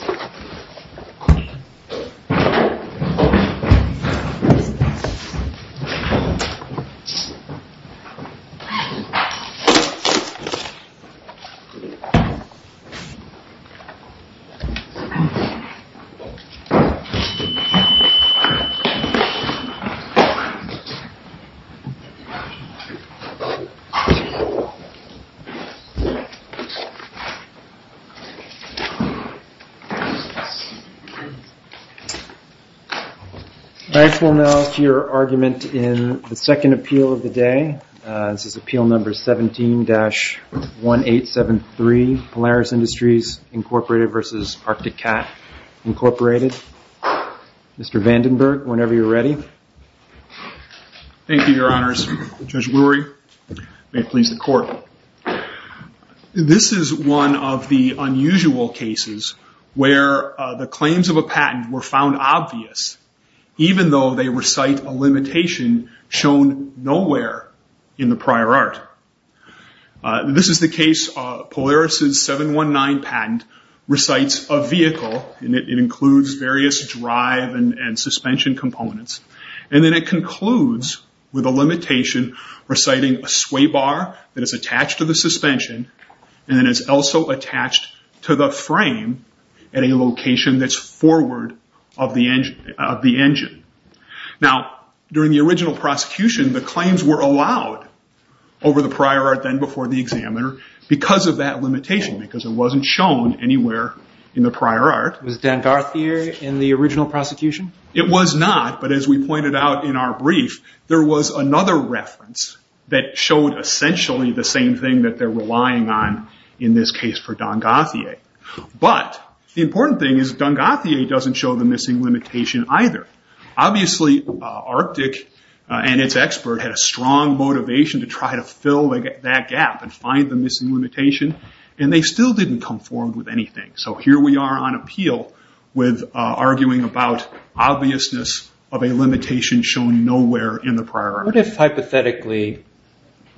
The Arctic Cat, Inc. v. Arctic Cat, Inc. I call now to your argument in the second appeal of the day. This is Appeal No. 17-1873, Polaris Industries, Inc. v. Arctic Cat, Inc. Mr. Vandenberg, whenever you're ready. Thank you, Your Honors. Judge Brewery, may it please the Court. This is one of the unusual cases where the claims of a patent were found obvious, even though they recite a limitation shown nowhere in the prior art. This is the case of Polaris's 719 patent recites a vehicle, and it includes various drive and suspension components. Then it concludes with a limitation reciting a sway bar that is attached to the suspension and is also attached to the frame at a location that's forward of the engine. During the original prosecution, the claims were allowed over the prior art, then before the examiner, because of that limitation, because it wasn't shown anywhere in the prior art. Was Dan Garthier in the original prosecution? It was not, but as we pointed out in our brief, there was another reference that showed essentially the same thing that they're relying on in this case for Dan Garthier. The important thing is Dan Garthier doesn't show the missing limitation either. Obviously, Arctic and its expert had a strong motivation to try to fill that gap and find the missing limitation, and they still didn't conform with anything. Here we are on appeal with arguing about obviousness of a limitation shown nowhere in the prior art. What if hypothetically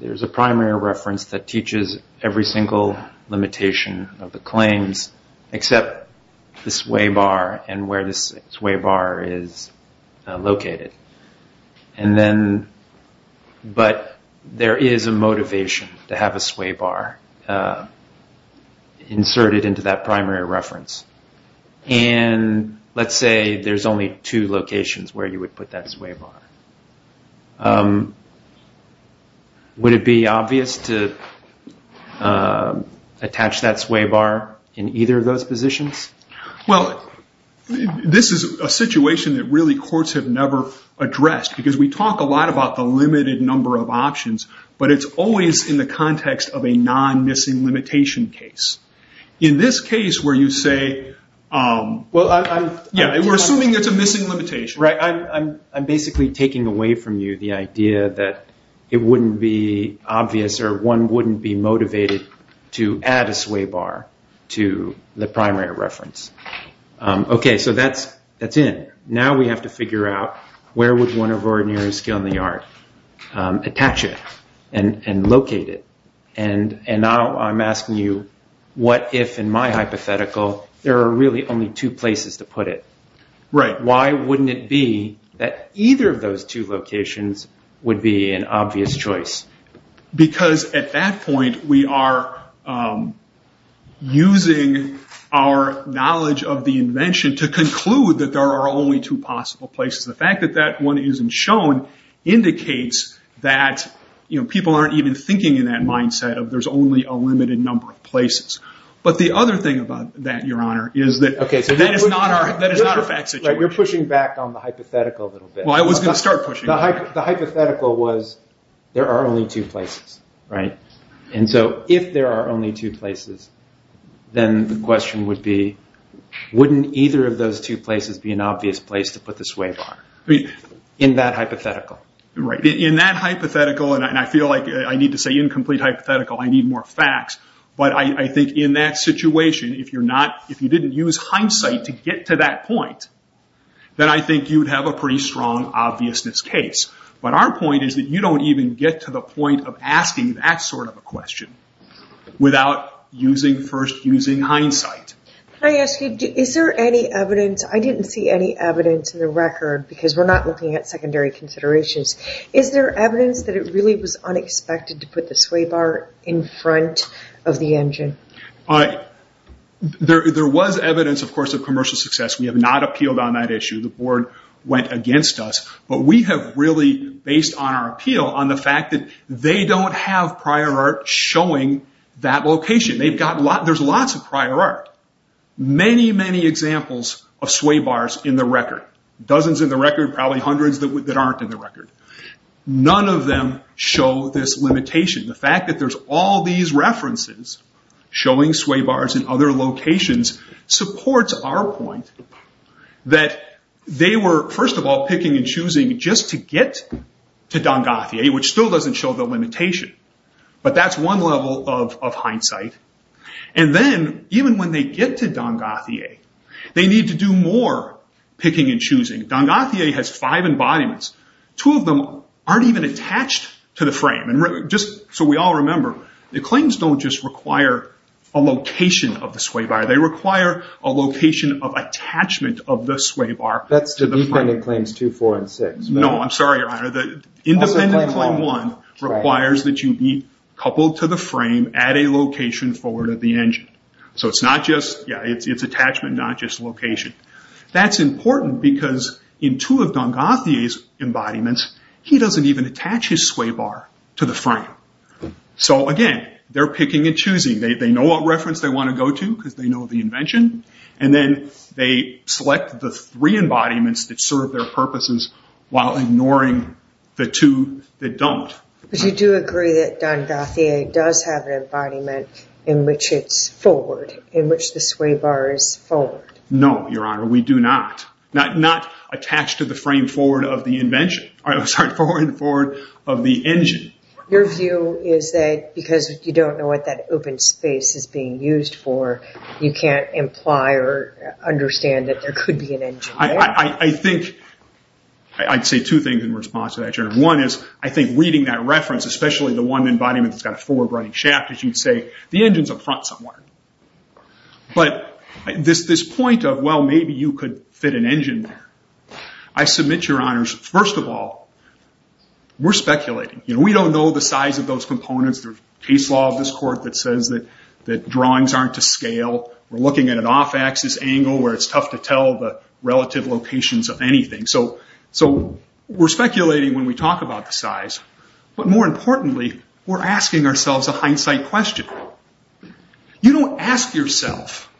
there's a primary reference that teaches every single limitation of the claims except the sway bar and where the sway bar is located, but there is a motivation to have a sway bar inserted into that primary reference? Let's say there's only two locations where you would put that sway bar. Would it be obvious to attach that sway bar in either of those positions? This is a situation that really courts have never addressed, because we talk a lot about the limited number of options, but it's always in the context of a non-missing limitation case. In this case where you say, we're assuming it's a missing limitation. I'm basically taking away from you the idea that it wouldn't be obvious or one wouldn't be motivated to add a sway bar to the primary reference. That's in. Now we have to figure out where would one of ordinary skill in the art attach it and locate it. Now I'm asking you, what if in my hypothetical there are really only two places to put it? Why wouldn't it be that either of those two locations would be an obvious choice? Because at that point we are using our knowledge of the invention to conclude that there are only two possible places. The fact that that one isn't shown indicates that people aren't even thinking in that mindset of there's only a limited number of places. The other thing about that, your honor, is that that is not a fact situation. You're pushing back on the hypothetical a little bit. I was going to start pushing. The hypothetical was there are only two places. If there are only two places, then the question would be, wouldn't either of those two places be an obvious place to put the sway bar? In that hypothetical. In that hypothetical, and I feel like I need to say incomplete hypothetical, I need more facts. I think in that situation, if you didn't use hindsight to get to that point, then I think you'd have a pretty strong obviousness case. Our point is that you don't even get to the point of asking that sort of a question without using first using hindsight. Can I ask you, is there any evidence, I didn't see any evidence in the record, because we're not looking at secondary considerations. Is there evidence that it really was unexpected to put the sway bar in front of the engine? There was evidence, of course, of commercial success. We have not appealed on that issue. The board went against us, but we have really, based on our appeal, on the fact that they don't have prior art showing that location. There's lots of prior art. Many, many examples of sway bars in the record. Dozens in the record, probably hundreds that aren't in the record. None of them show this limitation. The fact that there's all these references showing sway bars in other locations supports our point that they were, first of all, picking and choosing just to get to Dongathie, which still doesn't show the limitation, but that's one level of hindsight. Then, even when they get to Dongathie, they need to do more picking and choosing. Dongathie has five embodiments. Two of them aren't even attached to the frame. Just so we all remember, the claims don't just require a location of the sway bar. They require a location of attachment of the sway bar to the frame. That's the independent claims two, four, and six. No, I'm sorry, Your Honor. The independent claim one requires that you be coupled to the frame at a location forward of the engine. It's attachment, not just location. That's important because in two of Dongathie's embodiments, he doesn't even attach his sway bar to the frame. Again, they're picking and choosing. They know what reference they want to go to because they know the invention. Then, they select the three embodiments that serve their purposes, while ignoring the two that don't. You do agree that Dongathie does have an embodiment in which it's forward, in which the sway bar is forward? No, Your Honor. We do not. Not attached to the frame forward of the engine. Your view is that because you don't know what that open space is being used for, you can't imply or understand that there could be an engine there? I'd say two things in response to that, Your Honor. One is, I think reading that reference, especially the one embodiment that's got a forward running shaft, as you'd say, the engine's up front somewhere. This point of, well, maybe you could fit an engine there. I submit, Your Honors, first of all, we're speculating. We don't know the size of those components. There's a case law of this court that says that drawings aren't to scale. We're looking at an off-axis angle where it's tough to tell the relative locations of anything. We're speculating when we talk about the size, but more importantly, we're asking ourselves a hindsight question. You don't ask yourself,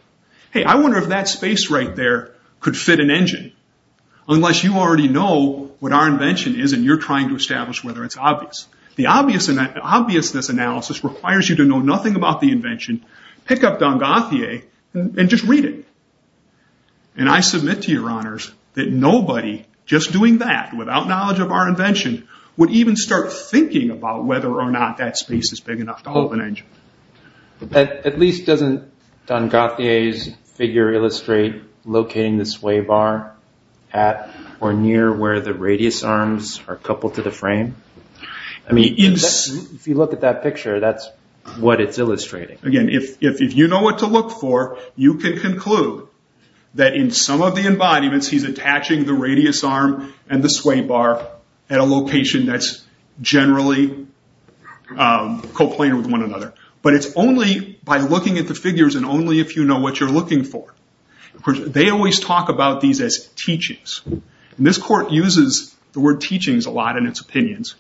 hey, I wonder if that space right there could fit an engine, unless you already know what our invention is and you're trying to establish whether it's obvious. The obviousness analysis requires you to know nothing about the invention, pick up Dongathie, and just read it. I submit to Your Honors that nobody, just doing that without knowledge of our invention, would even start thinking about whether or not that space is big enough to hold an engine. At least doesn't Dongathie's figure illustrate locating the sway bar at or near where the radius arms are coupled to the frame? If you look at that picture, that's what it's illustrating. Again, if you know what to look for, you can conclude that in some of the embodiments, he's attaching the radius arm and the sway bar at a location that's generally coplanar with one another. But it's only by looking at the figures and only if you know what you're looking for. They always talk about these as teachings. This court uses the word teachings a lot in its opinions.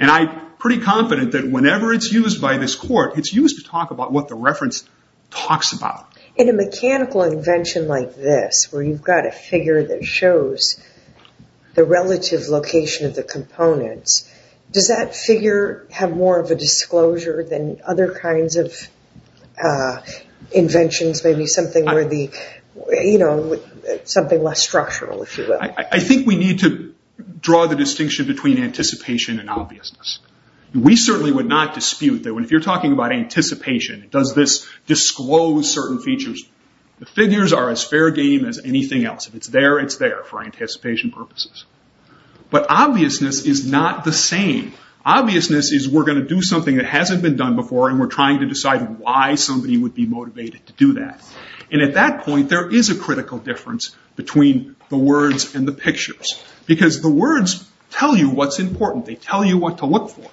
I'm pretty confident that whenever it's used by this court, it's used to talk about what the reference talks about. In a mechanical invention like this, where you've got a figure that shows the relative location of the components, does that figure have more of a disclosure than other kinds of inventions? Maybe something less structural, if you will? I think we need to draw the distinction between anticipation and obviousness. We certainly would not dispute that if you're talking about anticipation, does this disclose certain features? The figures are as fair game as anything else. If it's there, it's there for anticipation purposes. But obviousness is not the same. Obviousness is we're going to do something that hasn't been done before, and we're trying to decide why somebody would be motivated to do that. At that point, there is a critical difference between the words and the pictures. The words tell you what's important. They tell you what to look for.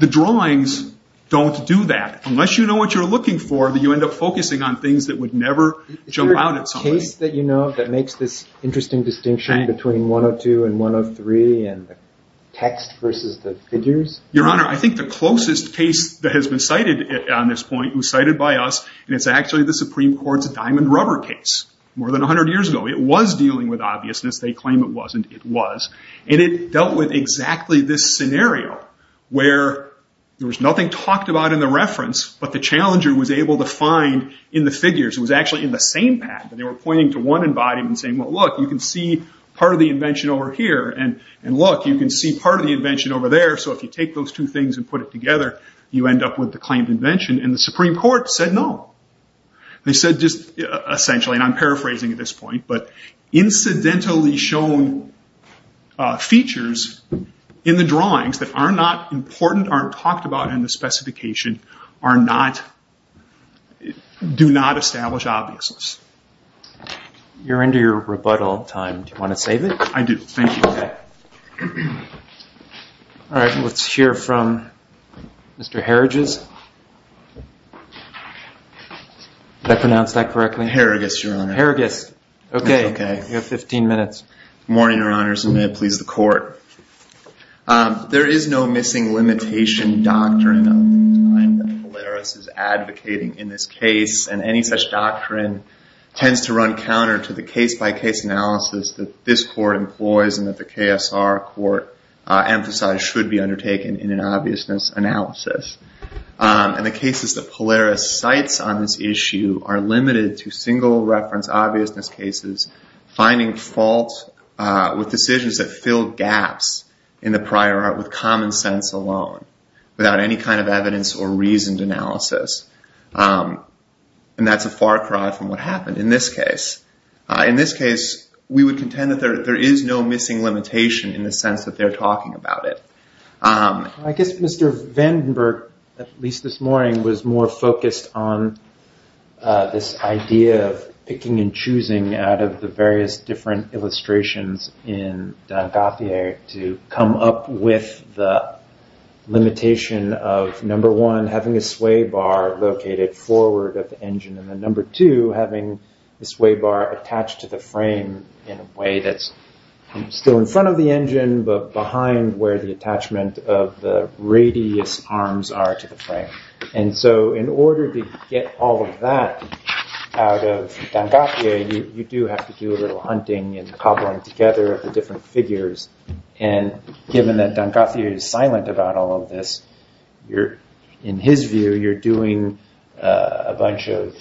The drawings don't do that. Unless you know what you're looking for, you end up focusing on things that would never jump out at somebody. Is there a case that you know of that makes this interesting distinction between 102 and 103, and the text versus the figures? Your Honor, I think the closest case that has been cited on this point was cited by us, and it's actually the Supreme Court's diamond rubber case. More than 100 years ago, it was dealing with obviousness. They claim it wasn't. It was. It dealt with exactly this scenario, where there was nothing talked about in the reference, but the challenger was able to find in the figures. It was actually in the same pad. They were pointing to one embodiment and saying, well, look, you can see part of the invention over here, and look, you can see part of the invention over there. If you take those two things and put it together, you end up with the claimed invention. The Supreme Court said no. They said just essentially, and I'm paraphrasing at this point, but incidentally shown features in the drawings that are not important, aren't talked about in the specification, do not establish obviousness. You're into your rebuttal time. Do you want to save it? I do. Thank you. All right. Let's hear from Mr. Herridges. Did I pronounce that correctly? Herriges, Your Honor. Herriges. Okay. You have 15 minutes. Morning, Your Honors, and may it please the Court. There is no missing limitation doctrine of the time that Polaris is advocating in this case, and any such doctrine tends to run counter to the case-by-case analysis that this Court employs, and that the KSR Court emphasized should be undertaken in an obviousness analysis. And the cases that Polaris cites on this issue are limited to single reference obviousness cases, finding faults with decisions that fill gaps in the prior art with common sense alone, without any kind of evidence or reasoned analysis. And that's a far cry from what happened in this case. In this case, we would contend that there is no missing limitation in the sense that they're talking about it. I guess Mr. Vandenberg, at least this morning, was more focused on this idea of picking and choosing out of the various different illustrations in Dengarthier to come up with the limitation of, number one, having a sway bar located forward of the engine, and then number two, having the sway bar attached to the frame in a way that's still in front of the engine, but behind where the attachment of the radius arms are to the frame. And so in order to get all of that out of Dengarthier, you do have to do a little hunting and cobbling together of the different figures. And given that Dengarthier is silent about all of this, in his view, you're doing a bunch of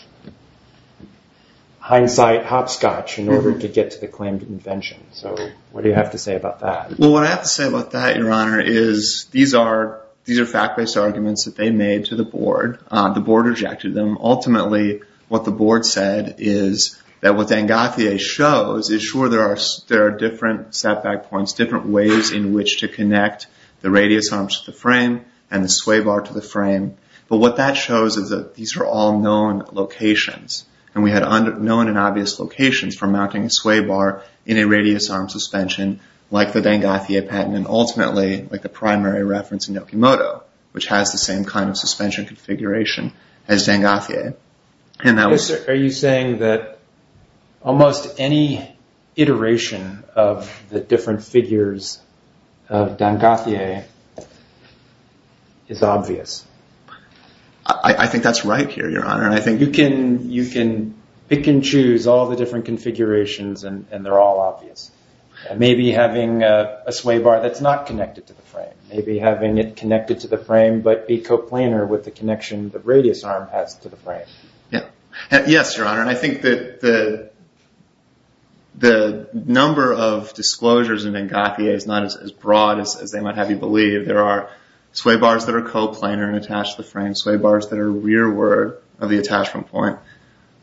hindsight hopscotch in order to get to the claimed invention. So what do you have to say about that? Well, what I have to say about that, Your Honor, is these are fact-based arguments that they made to the board. The board rejected them. Ultimately, what the board said is that what Dengarthier shows is, sure, there are different setback points, different ways in which to connect the radius arms to the frame and the sway bar to the frame. But what that shows is that these are all known locations. And we had known and obvious locations for mounting a sway bar in a radius arm suspension, like the Dengarthier patent, and ultimately, like the primary reference in Nokimoto, which has the same kind of suspension configuration as Dengarthier. Are you saying that almost any iteration of the different figures of Dengarthier is obvious? You can pick and choose all the different configurations and they're all obvious. Maybe having a sway bar that's not connected to the frame. Maybe having it connected to the frame but be coplanar with the connection the radius arm has to the frame. Yes, Your Honor. I think that the number of disclosures in Dengarthier is not as broad as they might have you believe. There are sway bars that are coplanar and attach to the frame, sway bars that are rearward of the attachment point.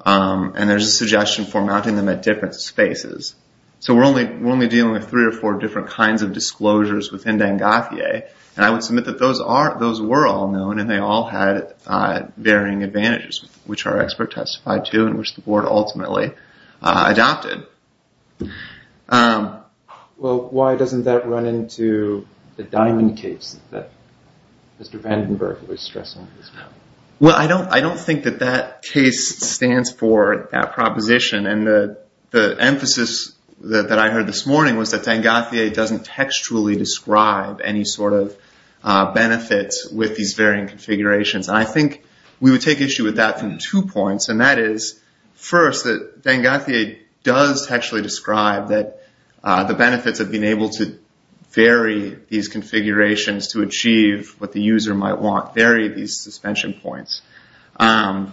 And there's a suggestion for mounting them at different spaces. So we're only dealing with three or four different kinds of disclosures within Dengarthier. And I would submit that those were all known and they all had varying advantages, which our expert testified to and which the board ultimately adopted. Well, why doesn't that run into the diamond case that Mr. Vandenberg was stressing? Well, I don't think that that case stands for that proposition. And the emphasis that I heard this morning was that Dengarthier doesn't textually describe any sort of benefits with these varying configurations. And I think we would take issue with that from two points. And that is, first, that Dengarthier does textually describe that the benefits of being to achieve what the user might want vary these suspension points. And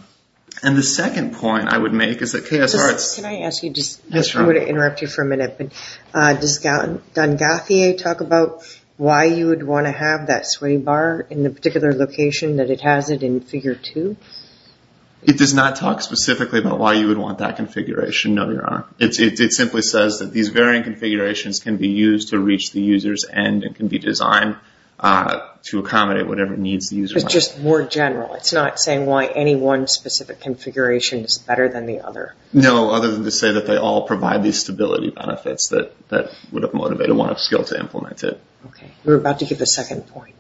the second point I would make is that KSR... Can I ask you just... Yes, sure. I'm going to interrupt you for a minute. But does Dengarthier talk about why you would want to have that sway bar in the particular location that it has it in figure two? It does not talk specifically about why you would want that configuration, no, Your Honor. It simply says that these varying configurations can be used to reach the user's end and can be designed to accommodate whatever needs the user... It's just more general. It's not saying why any one specific configuration is better than the other. No, other than to say that they all provide these stability benefits that would have motivated one of skill to implement it. Okay. You were about to give the second point.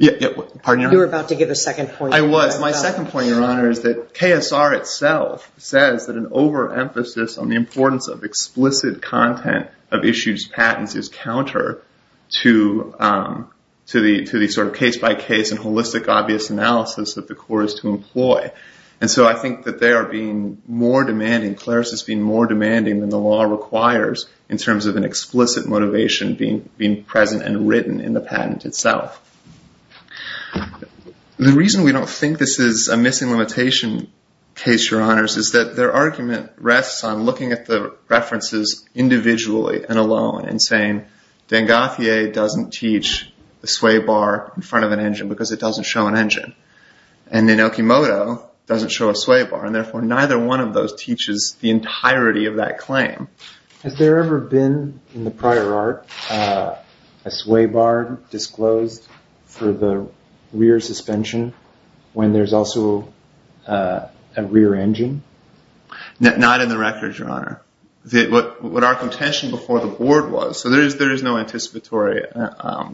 Pardon, Your Honor? You were about to give the second point. I was. My second point, Your Honor, is that KSR itself says that an overemphasis on the importance of explicit content of issued patents is counter to the sort of case-by-case and holistic obvious analysis that the court is to employ. And so I think that they are being more demanding, CLARIS is being more demanding than the law requires in terms of an explicit motivation being present and written in the patent itself. The reason we don't think this is a missing limitation case, Your Honors, is that their references individually and alone in saying Dengueffier doesn't teach a sway bar in front of an engine because it doesn't show an engine. And then Okimoto doesn't show a sway bar, and therefore neither one of those teaches the entirety of that claim. Has there ever been, in the prior art, a sway bar disclosed for the rear suspension when there's also a rear engine? Not in the record, Your Honor. What our contention before the board was. So there is no anticipatory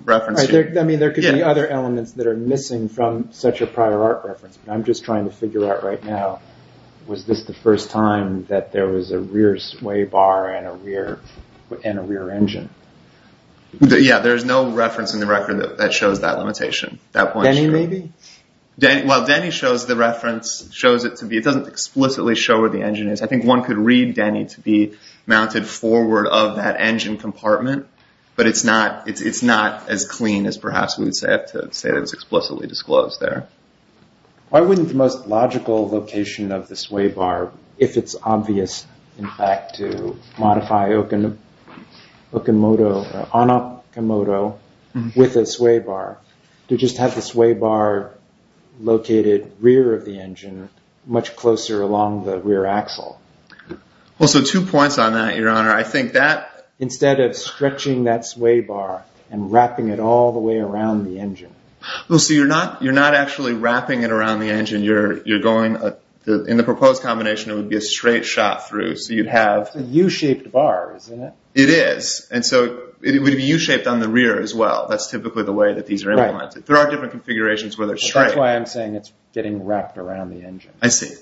reference here. I mean, there could be other elements that are missing from such a prior art reference. I'm just trying to figure out right now, was this the first time that there was a rear sway bar and a rear engine? Yeah, there's no reference in the record that shows that limitation. Denny, maybe? While Denny shows the reference, it doesn't explicitly show where the engine is. One could read Denny to be mounted forward of that engine compartment, but it's not as clean as perhaps we would have to say that it's explicitly disclosed there. Why wouldn't the most logical location of the sway bar, if it's obvious, in fact, to modify on Okimoto with a sway bar, to just have the sway bar located rear of the engine much closer along the rear axle? Well, so two points on that, Your Honor. I think that- Instead of stretching that sway bar and wrapping it all the way around the engine. Well, so you're not actually wrapping it around the engine. In the proposed combination, it would be a straight shot through. So you'd have- It's a U-shaped bar, isn't it? It is. And so it would be U-shaped on the rear as well. That's typically the way that these are implemented. There are different configurations where they're straight. That's why I'm saying it's getting wrapped around the engine. I see.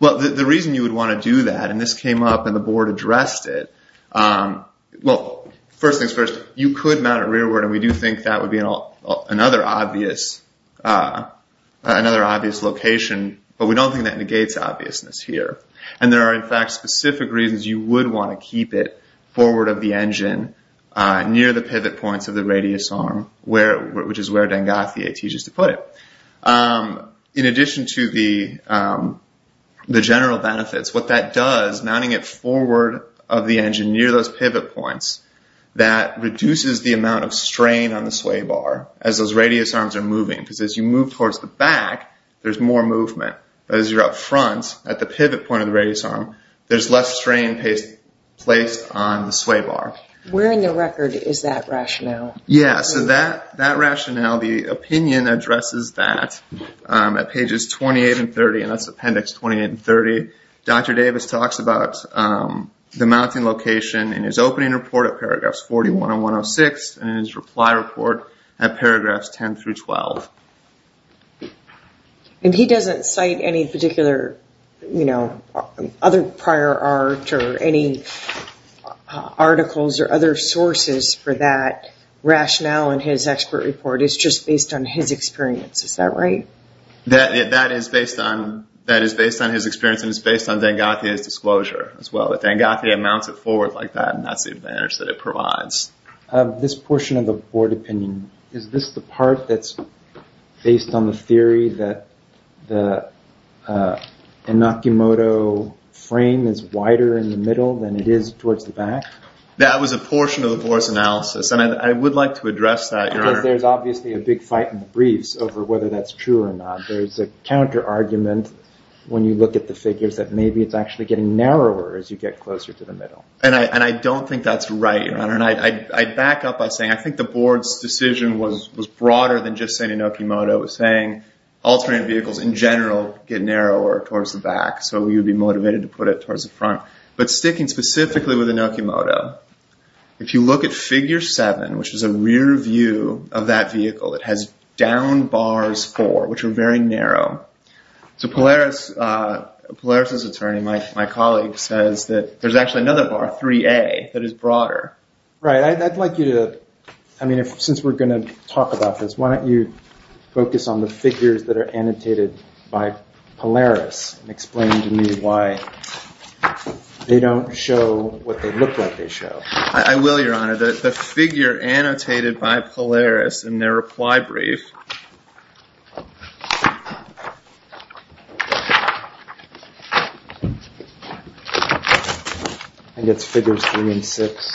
Well, the reason you would want to do that, and this came up and the board addressed it. Well, first things first, you could mount it rearward, and we do think that would be another obvious location. But we don't think that negates obviousness here. And there are, in fact, specific reasons you would want to keep it forward of the engine near the pivot points of the radius arm, which is where Dengas, the AT, used to put it. In addition to the general benefits, what that does, mounting it forward of the engine near those pivot points, that reduces the amount of strain on the sway bar as those radius arms are moving. Because as you move towards the back, there's more movement. But as you're up front, at the pivot point of the radius arm, there's less strain placed on the sway bar. Where in the record is that rationale? Yeah, so that rationale, the opinion addresses that at pages 28 and 30. And that's appendix 28 and 30. Dr. Davis talks about the mounting location in his opening report at paragraphs 41 and 106, and his reply report at paragraphs 10 through 12. And he doesn't cite any particular, you know, other prior art or any articles or other sources for that rationale in his expert report. It's just based on his experience. Is that right? That is based on his experience, and it's based on Dengas' disclosure as well. But Dengas mounts it forward like that, and that's the advantage that it provides. This portion of the board opinion, is this the part that's based on the theory that the Inokimoto frame is wider in the middle than it is towards the back? That was a portion of the board's analysis, and I would like to address that. Because there's obviously a big fight in the briefs over whether that's true or not. There's a counter argument when you look at the figures that maybe it's actually getting narrower as you get closer to the middle. And I don't think that's right, Your Honor. And I back up by saying I think the board's decision was broader than just saying Inokimoto. It was saying all train vehicles in general get narrower towards the back, so you'd be motivated to put it towards the front. But sticking specifically with Inokimoto, if you look at figure seven, which is a rear view of that vehicle, it has down bars four, which are very narrow. So Polaris' attorney, my colleague, says that there's actually another bar, 3A, that is broader. Right. I'd like you to... ...focus on the figures that are annotated by Polaris and explain to me why they don't show what they look like they show. I will, Your Honor. The figure annotated by Polaris in their reply brief... ...and it's figures three and six.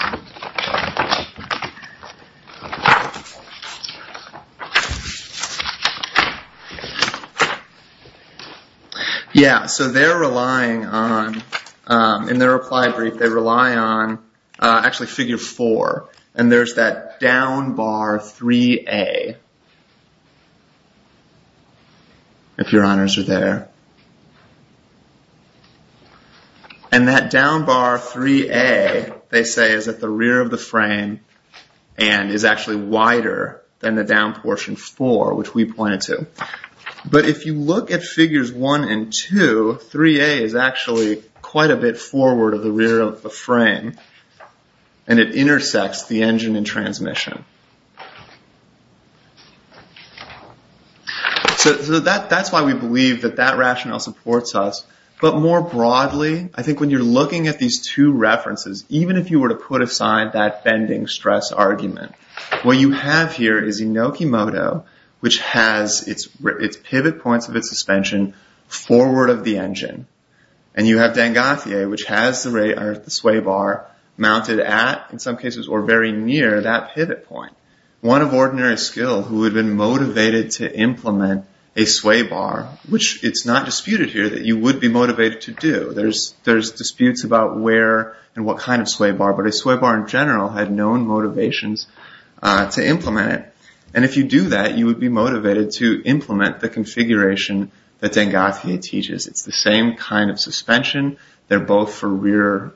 Yeah, so they're relying on... In their reply brief, they rely on actually figure four. And there's that down bar 3A, if Your Honors are there. And that down bar 3A, they say, is at the rear of the frame and is actually wider than the down portion four, which we pointed to. But if you look at figures one and two, 3A is actually quite a bit forward of the rear of the frame, and it intersects the engine and transmission. So that's why we believe that that rationale supports us. But more broadly, I think when you're looking at these two references, even if you were to put aside that bending stress argument, what you have here is Inokimodo, which has its pivot points of its suspension forward of the engine. And you have Dangathier, which has the sway bar mounted at, in some cases, or very near that pivot point. One of ordinary skill who had been motivated to implement a sway bar, which it's not disputed here that you would be motivated to do. There's disputes about where and what kind of sway bar, but a sway bar in general had known motivations to implement it. And if you do that, you would be motivated to implement the configuration that Dangathier teaches. It's the same kind of suspension. They're both for rear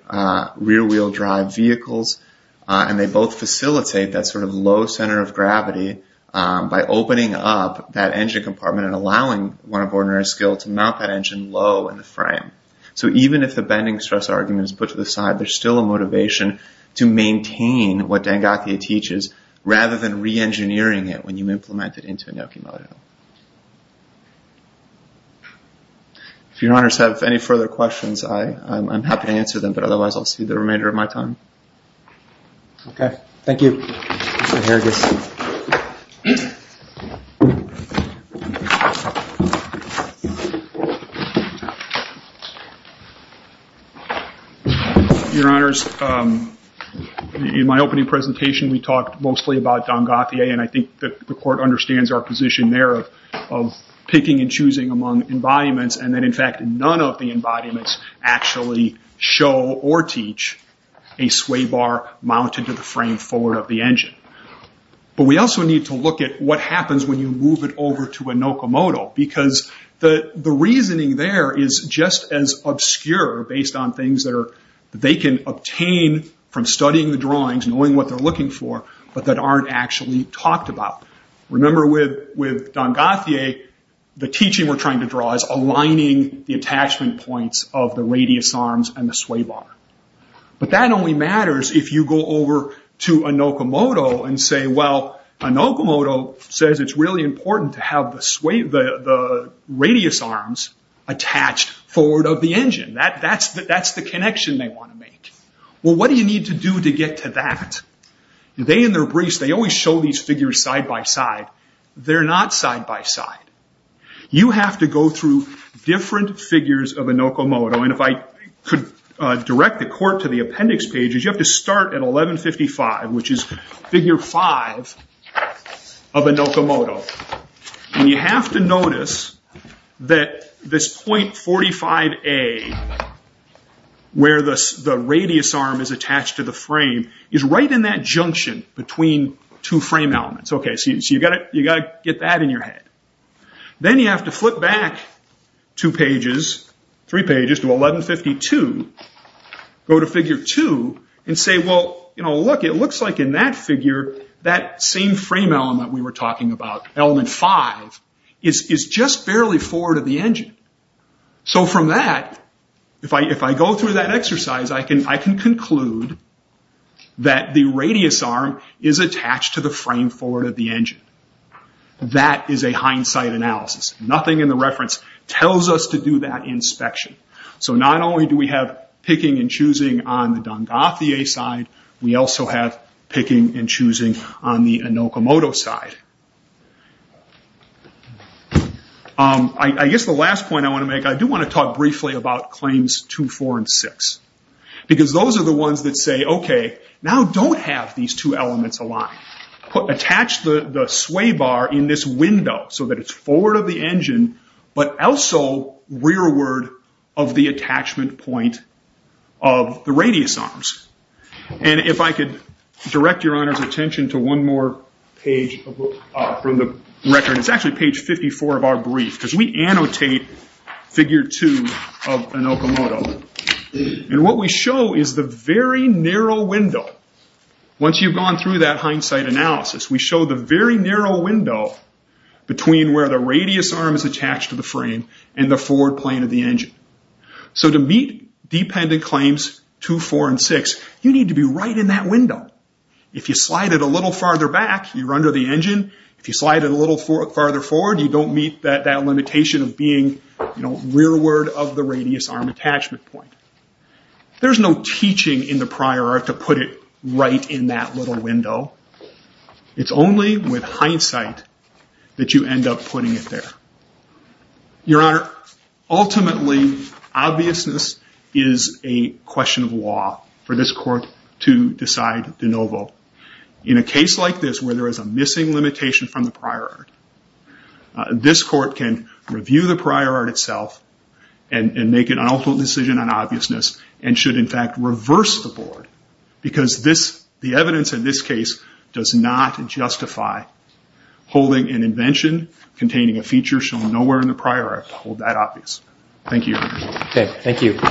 wheel drive vehicles, and they both facilitate that sort of low center of gravity by opening up that engine compartment and allowing one of ordinary skill to mount that engine low in the frame. So even if the bending stress argument is put to the side, there's still a motivation to maintain what Dangathier teaches rather than re-engineering it when you implement it into Inokimodo. If your honors have any further questions, I'm happy to answer them. But otherwise, I'll see the remainder of my time. Okay, thank you. Your honors, in my opening presentation, we talked mostly about Dangathier, and I think that the court understands our position there of picking and choosing among embodiments. And then in fact, none of the embodiments actually show or teach a sway bar mounted to the frame forward of the engine. But we also need to look at what happens when you move it over to Inokimodo, because the reasoning there is just as the reason obscure based on things that they can obtain from studying the drawings, knowing what they're looking for, but that aren't actually talked about. Remember with Dangathier, the teaching we're trying to draw is aligning the attachment points of the radius arms and the sway bar. But that only matters if you go over to Inokimodo and say, well, Inokimodo says it's really important to have the radius arms attached forward of the engine. That's the connection they want to make. Well, what do you need to do to get to that? They in their briefs, they always show these figures side by side. They're not side by side. You have to go through different figures of Inokimodo. And if I could direct the court to the appendix pages, you have to start at 1155, which is figure five of Inokimodo. And you have to notice that this point 45A, where the radius arm is attached to the frame, is right in that junction between two frame elements. Okay, so you've got to get that in your head. Then you have to flip back two pages, three pages to 1152, go to figure two and say, well, look, it looks like in that figure, that same frame element we were talking about, element five, is just barely forward of the engine. So from that, if I go through that exercise, I can conclude that the radius arm is attached to the frame forward of the engine. That is a hindsight analysis. Nothing in the reference tells us to do that inspection. So not only do we have picking and choosing on the Dongathia side, we also have picking and choosing on the Inokimodo side. I guess the last point I want to make, I do want to talk briefly about claims two, four, and six. Because those are the ones that say, okay, now don't have these two elements aligned. Attach the sway bar in this window so that it's forward of the engine, but also rearward of the attachment point of the radius arms. If I could direct your honor's attention to one more page from the record, it's actually page 54 of our brief, because we annotate figure two of Inokimodo. What we show is the very narrow window. Once you've gone through that hindsight analysis, we show the very narrow window between where the radius arm is attached to the frame and the forward plane of the engine. So to meet dependent claims two, four, and six, you need to be right in that window. If you slide it a little farther back, you're under the engine. If you slide it a little farther forward, you don't meet that limitation of being rearward of the radius arm attachment point. There's no teaching in the prior art to put it right in that little window. It's only with hindsight that you end up putting it there. Your honor, ultimately, obviousness is a question of law for this court to decide de novo. In a case like this where there is a missing limitation from the prior art, this court can review the prior art itself and make an ultimate decision on obviousness and should, in fact, reverse the board because the evidence in this case does not justify holding an invention containing a feature shown nowhere in the prior art to hold that obvious. Thank you, your honor. Okay, thank you.